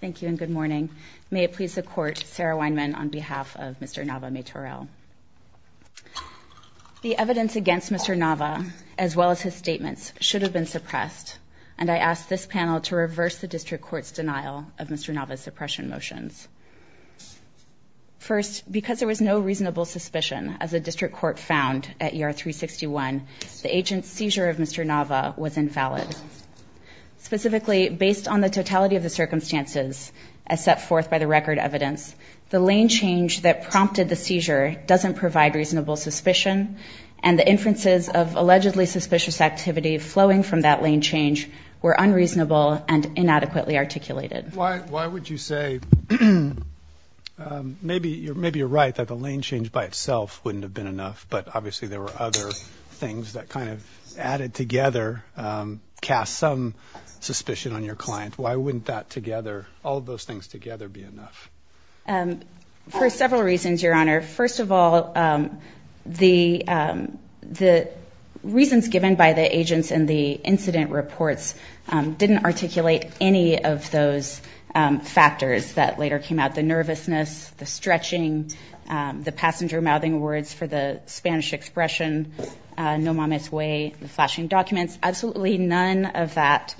Thank you and good morning. May it please the Court, Sarah Weinman on behalf of Mr. Nava-Maytorel. The evidence against Mr. Nava, as well as his statements, should have been suppressed, and I ask this panel to reverse the District Court's denial of Mr. Nava's suppression motions. First, because there was no reasonable suspicion, as the District Court found at ER 361, the set forth by the record evidence, the lane change that prompted the seizure doesn't provide reasonable suspicion, and the inferences of allegedly suspicious activity flowing from that lane change were unreasonable and inadequately articulated. Why would you say, maybe you're right that the lane change by itself wouldn't have been enough, but obviously there were other things that kind of added together, cast some suspicion on your client, why wouldn't that together, all of those things together be enough? For several reasons, Your Honor. First of all, the reasons given by the agents in the incident reports didn't articulate any of those factors that later came out, the nervousness, the stretching, the passenger-mouthing words for the Spanish expression, no mama's way, the flashing documents, absolutely none of that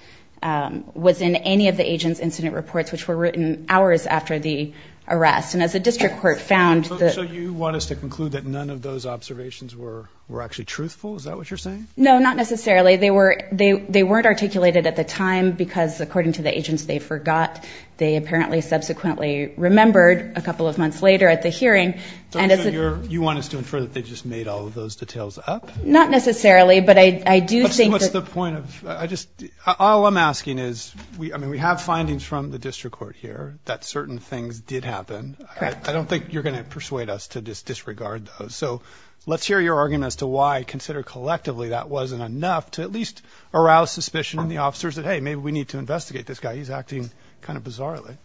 was in any of the agents' incident reports, which were written hours after the arrest, and as the District Court found that... So you want us to conclude that none of those observations were actually truthful, is that what you're saying? No, not necessarily. They weren't articulated at the time because, according to the agents, they forgot, they apparently subsequently remembered a couple of months later at the hearing, and... So you want us to infer that they just made all of those details up? Not necessarily, but I do think that... But so what's the point of... All I'm asking is, I mean, we have findings from the District Court here that certain things did happen. I don't think you're going to persuade us to just disregard those. So let's hear your argument as to why, considered collectively, that wasn't enough to at least arouse suspicion in the officers that, hey, maybe we need to investigate this guy, he's acting kind of bizarrely.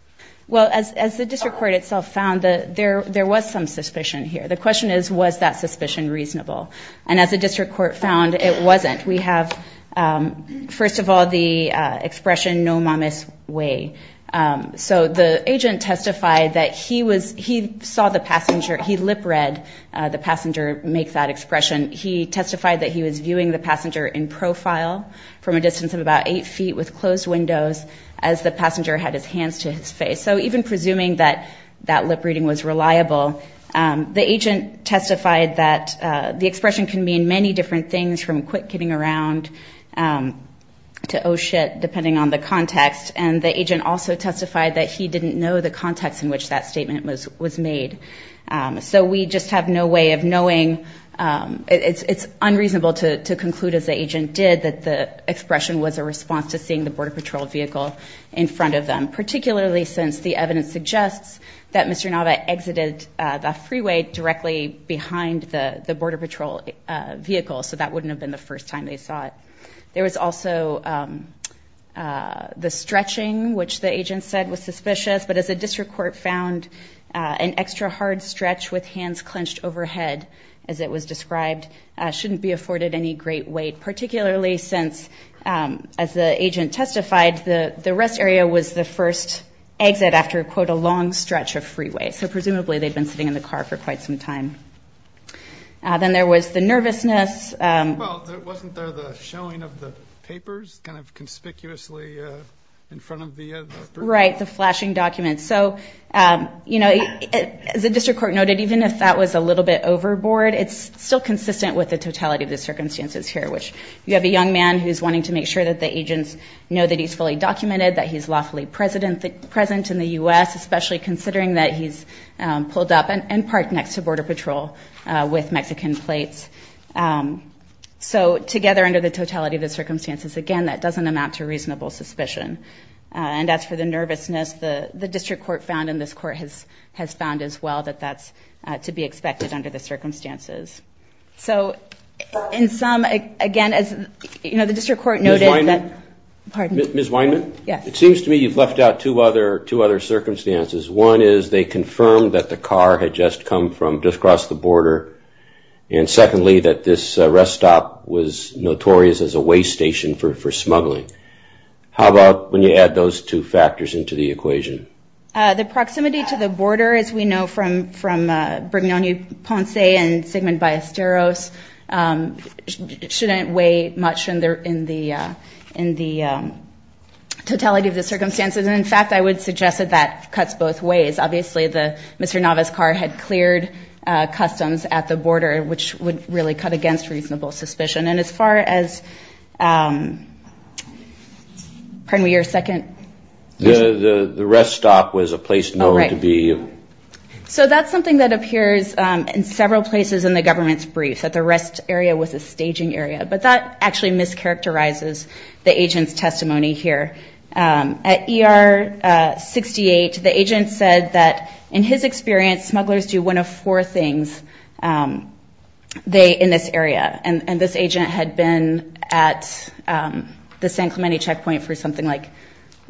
Well, as the District Court itself found, there was some suspicion here. The question is, was that suspicion reasonable? And as the District Court found, it wasn't. We have, first of all, the expression, no mamis way. So the agent testified that he saw the passenger, he lip-read the passenger make that expression. He testified that he was viewing the passenger in profile from a distance of about eight feet with closed windows as the passenger had his hands to his face. So even presuming that that lip-reading was reliable, the agent testified that the expression can mean many different things from quit kidding around to oh shit, depending on the context. And the agent also testified that he didn't know the context in which that statement was made. So we just have no way of knowing... It's unreasonable to conclude, as the agent did, that the expression was a response to seeing the Border Patrol vehicle in front of them, particularly since the evidence suggests that Mr. Nava exited the freeway directly behind the Border Patrol vehicle. So that wouldn't have been the first time they saw it. There was also the stretching, which the agent said was suspicious. But as the District Court found, an extra hard stretch with hands clenched overhead, as it was described, shouldn't be afforded any great weight, particularly since, as the agent testified, the rest area was the first exit after, quote, a long stretch of freeway. So presumably, they'd been sitting in the car for quite some time. Then there was the nervousness. Well, wasn't there the showing of the papers, kind of conspicuously in front of the... Right, the flashing documents. So, you know, as the District Court noted, even if that was a little bit overboard, it's still consistent with the totality of the circumstances here, which you have a young man who's wanting to make sure that the agents know that he's fully present in the U.S., especially considering that he's pulled up and parked next to Border Patrol with Mexican plates. So together, under the totality of the circumstances, again, that doesn't amount to reasonable suspicion. And as for the nervousness, the District Court found, and this Court has found as well, that that's to be expected under the circumstances. So in sum, again, as, you know, the District Court noted that... Ms. Weinman? Pardon? Ms. Weinman? Yes. It seems to me you've left out two other circumstances. One is they confirmed that the car had just come from just across the border. And secondly, that this rest stop was notorious as a way station for smuggling. How about when you add those two factors into the equation? The proximity to the border, as we know from Brignone-Ponce and Sigmund Ballesteros, shouldn't weigh much in the totality of the circumstances. And in fact, I would suggest that that cuts both ways. Obviously, Mr. Nava's car had cleared customs at the border, which would really cut against reasonable suspicion. And as far as... Pardon me, your second question? The rest stop was a place known to be... So that's something that appears in several places in the government's briefs, that the rest stop actually mischaracterizes the agent's testimony here. At ER 68, the agent said that in his experience, smugglers do one of four things in this area. And this agent had been at the San Clemente checkpoint for something like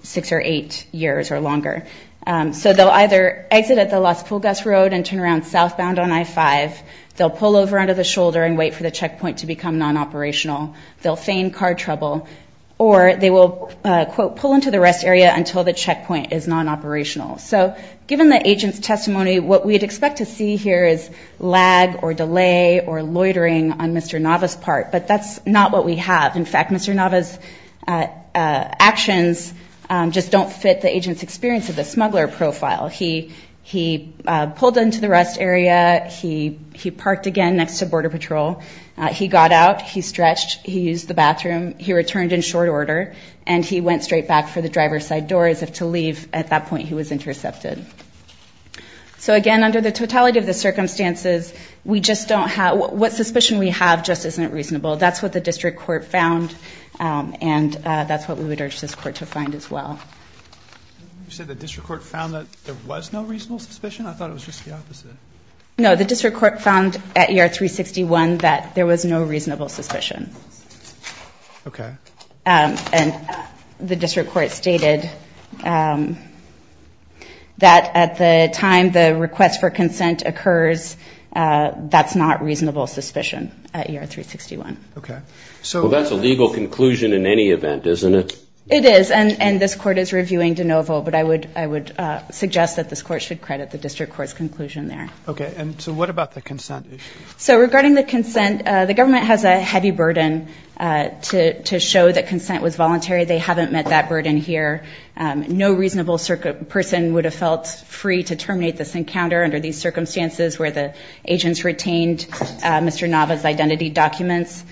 six or eight years or longer. So they'll either exit at the Las Pulgas Road and turn around southbound on I-5. They'll pull over to the shoulder and wait for the checkpoint to become non-operational. They'll feign car trouble or they will, quote, pull into the rest area until the checkpoint is non-operational. So given the agent's testimony, what we'd expect to see here is lag or delay or loitering on Mr. Nava's part. But that's not what we have. In fact, Mr. Nava's actions just don't fit the agent's experience of the smuggler profile. He pulled into the rest area. He went to Border Patrol. He got out. He stretched. He used the bathroom. He returned in short order. And he went straight back for the driver's side door as if to leave. At that point, he was intercepted. So again, under the totality of the circumstances, we just don't have, what suspicion we have just isn't reasonable. That's what the district court found. And that's what we would urge this court to find as well. You said the district court found that there was no reasonable suspicion? I thought it was just the opposite. No, the district court found at ER-361 that there was no reasonable suspicion. Okay. And the district court stated that at the time the request for consent occurs, that's not reasonable suspicion at ER-361. Okay. So that's a legal conclusion in any event, isn't it? It is. And this court is reviewing de novo. But I would suggest that this court should Okay. And so what about the consent issue? So regarding the consent, the government has a heavy burden to show that consent was voluntary. They haven't met that burden here. No reasonable person would have felt free to terminate this encounter under these circumstances where the agents retained Mr. Nava's identity documents.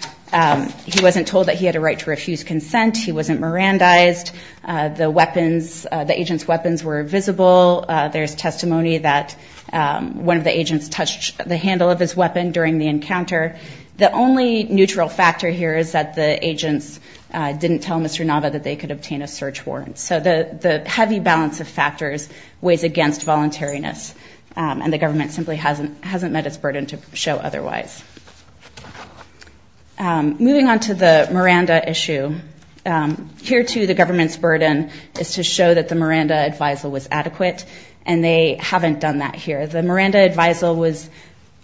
He wasn't told that he had a right to refuse consent. He wasn't Mirandized. The agent's were visible. There's testimony that one of the agents touched the handle of his weapon during the encounter. The only neutral factor here is that the agents didn't tell Mr. Nava that they could obtain a search warrant. So the heavy balance of factors weighs against voluntariness and the government simply hasn't met its burden to show otherwise. Moving on to the Miranda issue, here too the government's burden is to show that the Miranda advisal was adequate. And they haven't done that here. The Miranda advisal was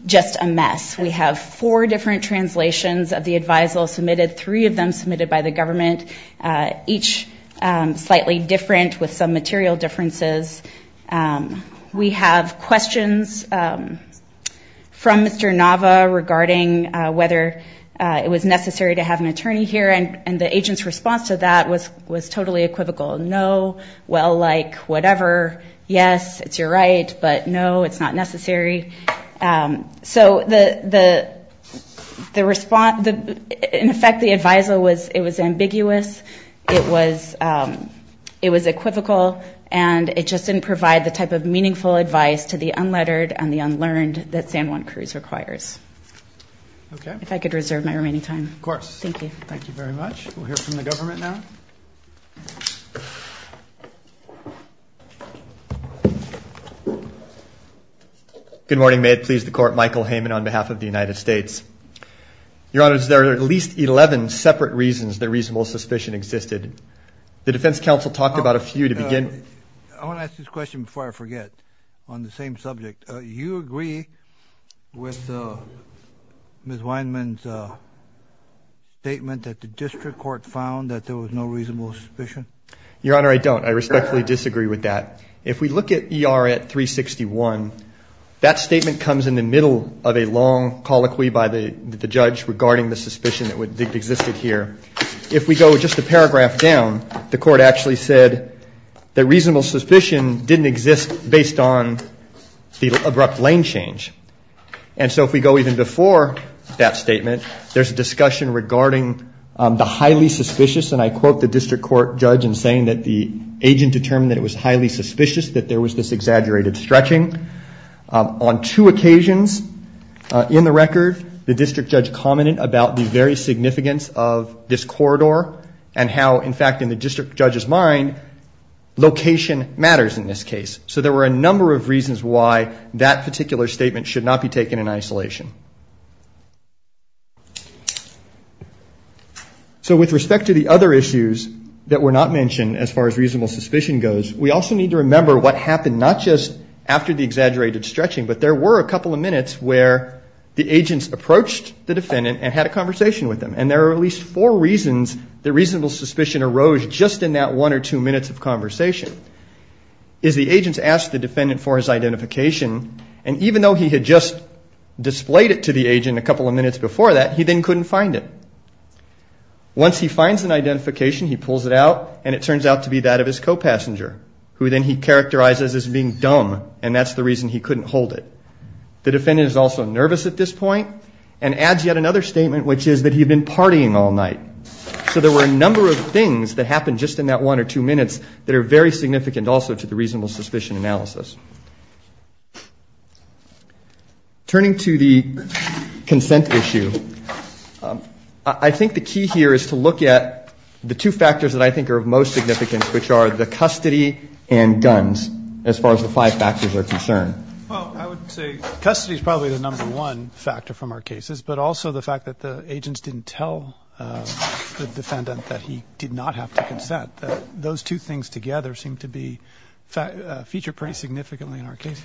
just a mess. We have four different translations of the advisal submitted, three of them submitted by the government, each slightly different with some material differences. We have questions from Mr. Nava regarding whether it was necessary to have an attorney here. And the agent's totally equivocal. No, well, like, whatever. Yes, it's your right, but no, it's not necessary. So in effect the advisal was ambiguous. It was equivocal and it just didn't provide the type of meaningful advice to the unlettered and the unlearned that San Juan Cruz requires. If I could reserve my remaining time. Of course. Thank you. Thank you very much. We'll hear from the government now. Good morning. May it please the court. Michael Heyman on behalf of the United States. Your Honor, there are at least 11 separate reasons the reasonable suspicion existed. The defense counsel talked about a few to begin. I want to ask this question before I forget on the same subject. You agree with Ms. Weinman's statement that the district court found that there was no reasonable suspicion? Your Honor, I don't. I respectfully disagree with that. If we look at E.R. at 361, that statement comes in the middle of a long colloquy by the judge regarding the suspicion that existed here. If we go just a paragraph down, the court actually said that reasonable suspicion didn't exist based on the abrupt lane change. And so if we go even before that statement, there's a discussion regarding the highly suspicious, and I quote the district court judge in saying that the agent determined that it was highly suspicious that there was this exaggerated stretching. On two occasions in the record, the district judge commented about the very significance of this corridor and how, in fact, in the district judge's mind, location matters in this case. So there were a number of reasons why that particular statement should not be So with respect to the other issues that were not mentioned, as far as reasonable suspicion goes, we also need to remember what happened not just after the exaggerated stretching, but there were a couple of minutes where the agents approached the defendant and had a conversation with him. And there are at least four reasons that reasonable suspicion arose just in that one or two minutes of conversation, is the agents asked the defendant for his identification, and even though he had just displayed it to the agent a couple of minutes before that, he then couldn't find it. Once he finds an identification, he pulls it out, and it turns out to be that of his co-passenger, who then he characterizes as being dumb, and that's the reason he couldn't hold it. The defendant is also nervous at this point and adds yet another statement, which is that he'd been partying all night. So there were a number of things that happened just in that one or two minutes that are very significant also to the reasonable suspicion analysis. Turning to the consent issue, I think the key here is to look at the two factors that I think are of most significance, which are the custody and guns, as far as the five factors are concerned. Well, I would say custody is probably the number one factor from our cases, but also the fact that the agents didn't tell the defendant that he did not have to consent, that those two things together seem to be, feature pretty significantly in this case.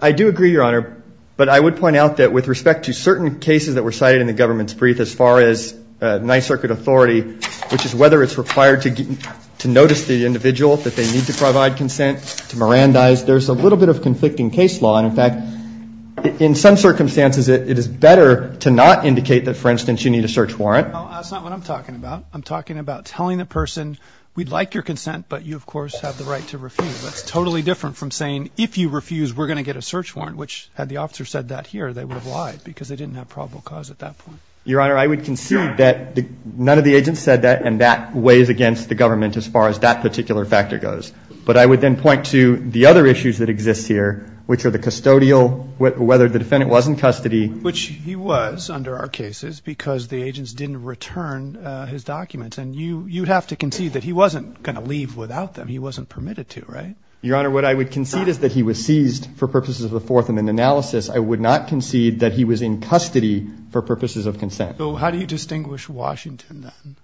I do agree, Your Honor, but I would point out that with respect to certain cases that were cited in the government's brief as far as Ninth Circuit authority, which is whether it's required to notice the individual that they need to provide consent, to Mirandize, there's a little bit of conflicting case law, and in fact, in some circumstances, it is better to not indicate that, for instance, you need a search warrant. Well, that's not what I'm talking about. I'm talking about telling the person, we'd like your consent, but you, of course, have the right to refuse. That's totally different from saying, if you refuse, we're going to get a search warrant, which had the officer said that here, they would have lied, because they didn't have probable cause at that point. Your Honor, I would concede that none of the agents said that, and that weighs against the government as far as that particular factor goes. But I would then point to the other issues that exist here, which are the custodial, whether the defendant was in custody. Which he was under our cases, because the agents didn't return his documents. And you'd have to concede that he wasn't going to leave without them. He wasn't permitted to, right? Your Honor, what I would concede is that he was seized for purposes of a fourth and an analysis. I would not concede that he was in custody for purposes of consent. So how do you distinguish Washington, then?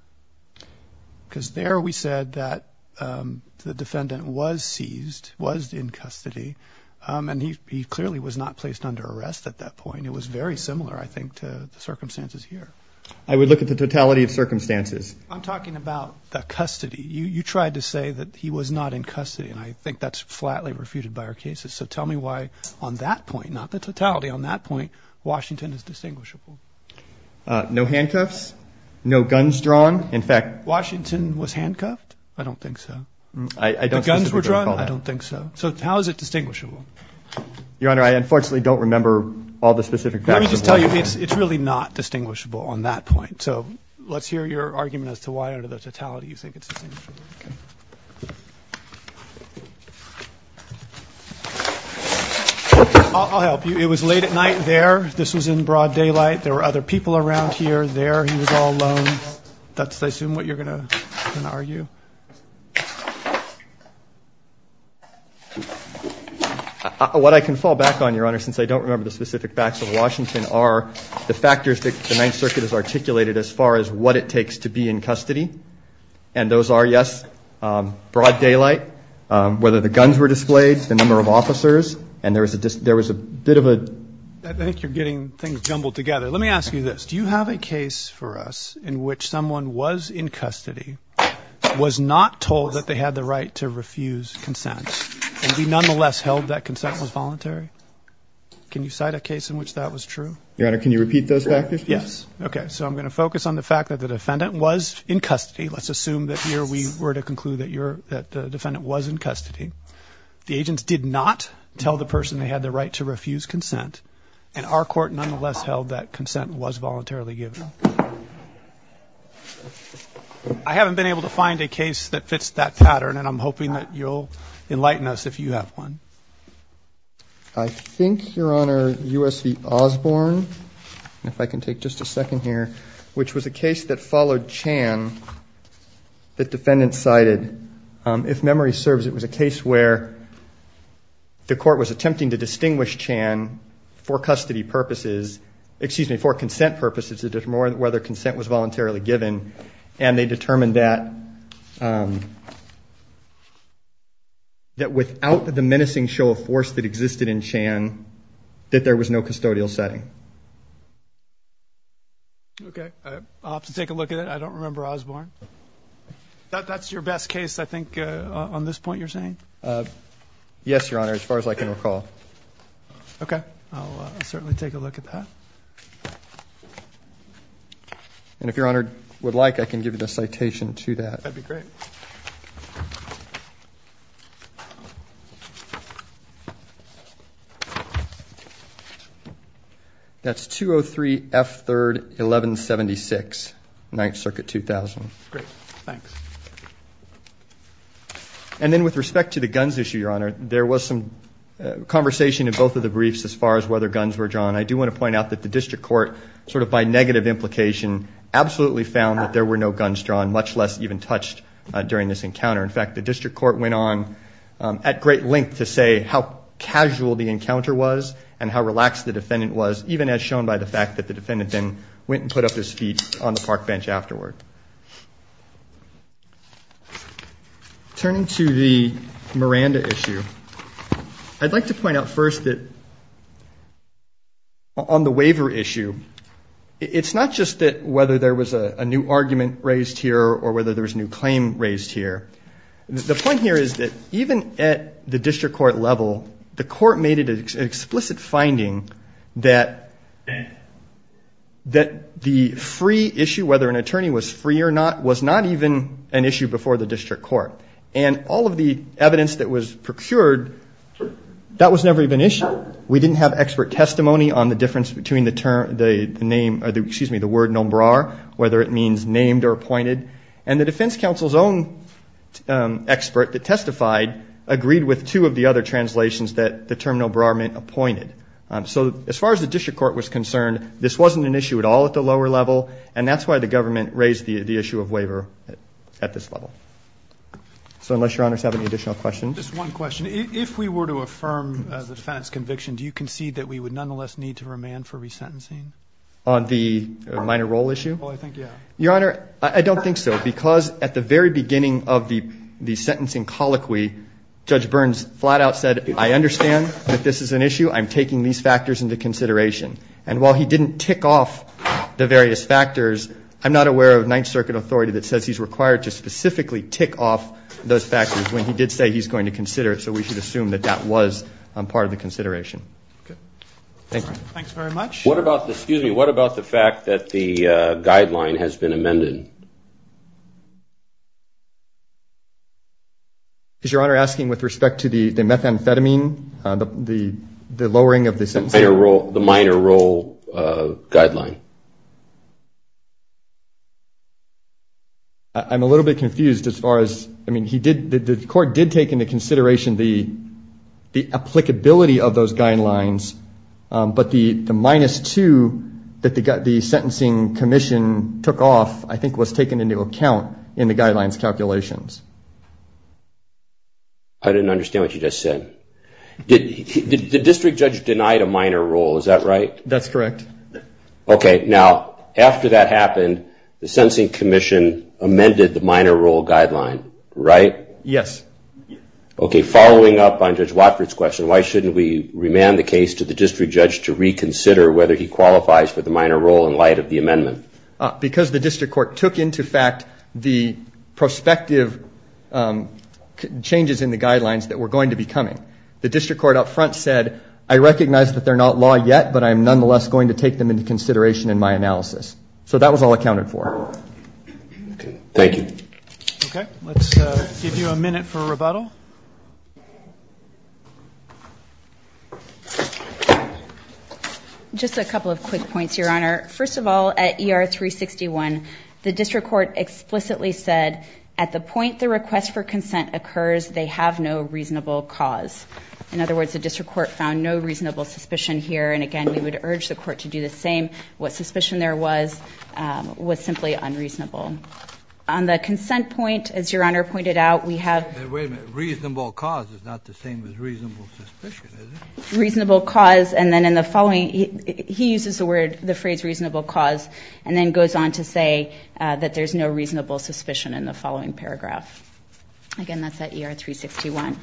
Because there we said that the defendant was seized, was in custody, and he clearly was not placed under arrest at that point. It was very similar, I think, to the circumstances here. I would look at the totality of circumstances. I'm talking about the custody. You tried to say that he was not in custody, and I think that's flatly refuted by our cases. So tell me why on that point, not the totality, on that point, Washington is distinguishable. No handcuffs, no guns drawn. In fact, Washington was handcuffed? I don't think so. The guns were drawn? I don't think so. So how is it distinguishable? Your Honor, I unfortunately don't remember all the specific facts. Let me just tell you, it's really not distinguishable on that point. So let's hear your argument as to why under the totality you think it's distinguishable. Okay. I'll help you. It was late at night there. This was in broad daylight. There were other people around here there. He was all alone. That's, I assume, what you're going to argue? What I can fall back on, Your Honor, since I don't remember the specific facts of Washington, are the factors that the Ninth Circuit has articulated as far as what it takes to be in custody. And those are, yes, broad daylight, whether the guns were displayed, the number of officers, and there was a bit of a ---- I think you're getting things jumbled together. Let me ask you this. Do you have a case for us in which someone was in custody, was not told that they had the right to refuse consent, and be nonetheless held that consent was voluntary? Can you cite a case in which that was true? Your Honor, can you repeat those factors? Yes. Okay. So I'm going to focus on the fact that the defendant was in custody. Let's assume that here we were to conclude that the defendant was in custody. The agents did not tell the person they had the right to refuse consent, and our court nonetheless held that consent was voluntarily given. I haven't been able to find a case that fits that pattern, and I'm hoping that you'll enlighten us if you have one. I think, Your Honor, U.S. v. Osborne, if I can take just a second here, which was a case that followed Chan that defendants cited. If memory serves, it was a case where the court was attempting to distinguish Chan for custody purposes, excuse me, for consent purposes, to determine whether consent was voluntarily given, and they determined that without the menacing show of force that existed in Chan, that there was no custodial setting. Okay. I'll have to take a look at it. I don't remember Osborne. That's your best case, I think, on this point you're saying? Yes, Your Honor, as far as I can recall. Okay. I'll certainly take a look at that. And if Your Honor would like, I can give you the citation to that. That'd be great. That's 203 F. 3rd, 1176, 9th Circuit, 2000. Great. Thanks. And then with respect to the guns issue, Your Honor, there was some conversation in both of the briefs as far as whether guns were drawn. And I do want to point out that the district court sort of by negative implication absolutely found that there were no guns drawn, much less even touched during this encounter. In fact, the district court went on at great length to say how casual the encounter was and how relaxed the defendant was, even as shown by the fact that the defendant then went and put up his feet on the park bench afterward. Turning to the Miranda issue, I'd like to point out first that on the waiver issue, it's not just that whether there was a new argument raised here or whether there was a new claim raised here. The point here is that even at the district court level, the court made it an explicit finding that the free issue, whether an attorney was free or not, was not even an issue before the district court. And all of the evidence that was procured, that was never even issued. We didn't have expert testimony on the difference between the term, the name, excuse me, the word nombrar, whether it means named or appointed. And the defense counsel's own expert that testified agreed with two of the other translations that the term nombrar meant appointed. So as far as the district court was concerned, this wasn't an issue at all at the lower level, and that's why the government raised the issue of waiver at this level. So unless Your Honor has any additional questions. Just one question. If we were to affirm the defendant's conviction, do you concede that we would nonetheless need to remand for resentencing? On the minor role issue? Well, I think, yeah. Your Honor, I don't think so, because at the very beginning of the sentencing colloquy, Judge Burns flat out said, I understand that this is an issue. I'm taking these factors into consideration. And while he didn't tick off the various factors, I'm not aware of Ninth Circuit authority that says he's required to specifically tick off those factors when he did say he's going to consider it. So we should assume that that was part of the consideration. Okay. Thank you. Thanks very much. What about the fact that the guideline has been amended? Is Your Honor asking with respect to the methamphetamine, the lowering of the sentencing? The minor role guideline? I'm a little bit confused as far as, I mean, the court did take into consideration the applicability of those guidelines. But the minus two that the sentencing commission took off, I think, was taken into account in the guidelines calculations. I didn't understand what you just said. The district judge denied a minor role, is that right? That's correct. Okay. Now, after that happened, the sentencing commission amended the minor role guideline, right? Yes. Okay. Following up on Judge Watford's question, why shouldn't we remand the case to the district judge to reconsider whether he qualifies for the minor role in light of the amendment? Because the district court took into fact the prospective changes in the guidelines that were going to be coming. The district court up front said, I recognize that they're not law yet, but I'm nonetheless going to take them into consideration in my analysis. So that was all accounted for. Thank you. Okay. Let's give you a minute for rebuttal. Just a couple of quick points, Your Honor. First of all, at ER 361, the district court explicitly said, at the point the request for consent occurs, they have no reasonable cause. In other words, the district court found no reasonable suspicion here. And, again, we would urge the court to do the same. What suspicion there was was simply unreasonable. On the consent point, as Your Honor pointed out, we have – Wait a minute. Reasonable cause is not the same as reasonable suspicion, is it? And then in the following, he uses the phrase reasonable cause and then goes on to say that there's no reasonable suspicion in the following paragraph. Again, that's at ER 361.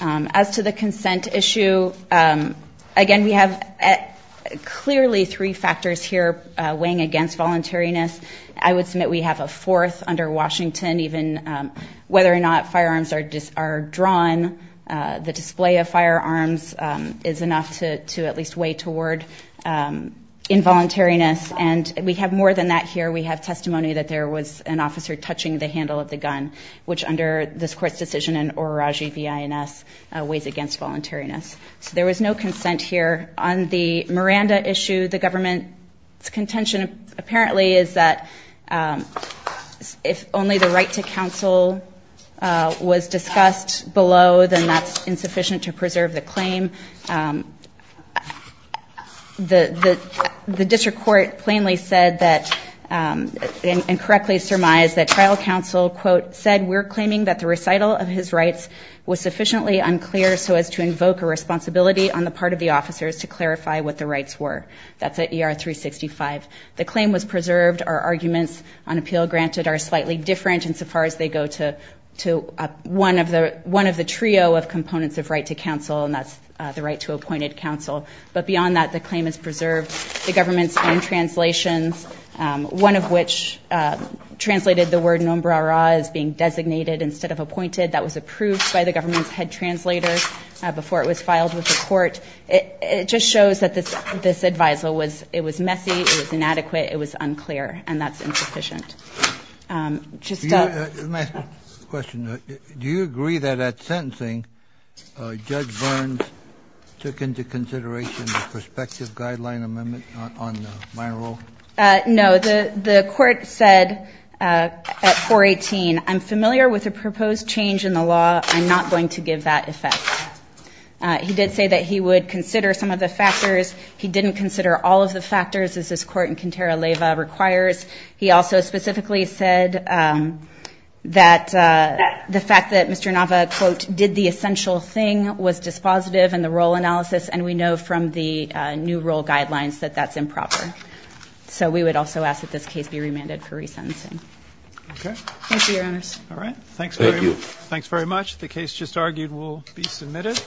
As to the consent issue, again, we have clearly three factors here weighing against voluntariness. I would submit we have a fourth under Washington, even whether or not firearms are drawn, the display of firearms is enough to at least weigh toward involuntariness. And we have more than that here. We have testimony that there was an officer touching the handle of the gun, which under this court's decision in Oruraji v. INS weighs against voluntariness. So there was no consent here. On the Miranda issue, the government's contention apparently is that if only the right to counsel was discussed below, then that's insufficient to preserve the claim. The district court plainly said that – and correctly surmised that trial counsel, quote, said we're claiming that the recital of his rights was sufficiently unclear so as to invoke a responsibility on the part of the officers to clarify what the rights were. That's at ER 365. The claim was preserved. Our arguments on appeal granted are slightly different insofar as they go to one of the trio of components of right to counsel, and that's the right to appointed counsel. But beyond that, the claim is preserved. The government's own translations, one of which translated the word Nombrara as being designated instead of appointed, that was approved by the government's head translator before it was filed with the court. It just shows that this advisal was messy, it was inadequate, it was unclear, and that's insufficient. Let me ask a question. Do you agree that at sentencing, Judge Burns took into consideration the prospective guideline amendment on my rule? No. The court said at 418, I'm familiar with the proposed change in the law. I'm not going to give that effect. He did say that he would consider some of the factors. He didn't consider all of the factors, as this court in Quintero Leyva requires. He also specifically said that the fact that Mr. Nava, quote, did the essential thing was dispositive in the role analysis, and we know from the new rule guidelines that that's improper. So we would also ask that this case be remanded for resentencing. Okay. Thank you, Your Honors. All right. Thank you. Thanks very much. The case just argued will be submitted.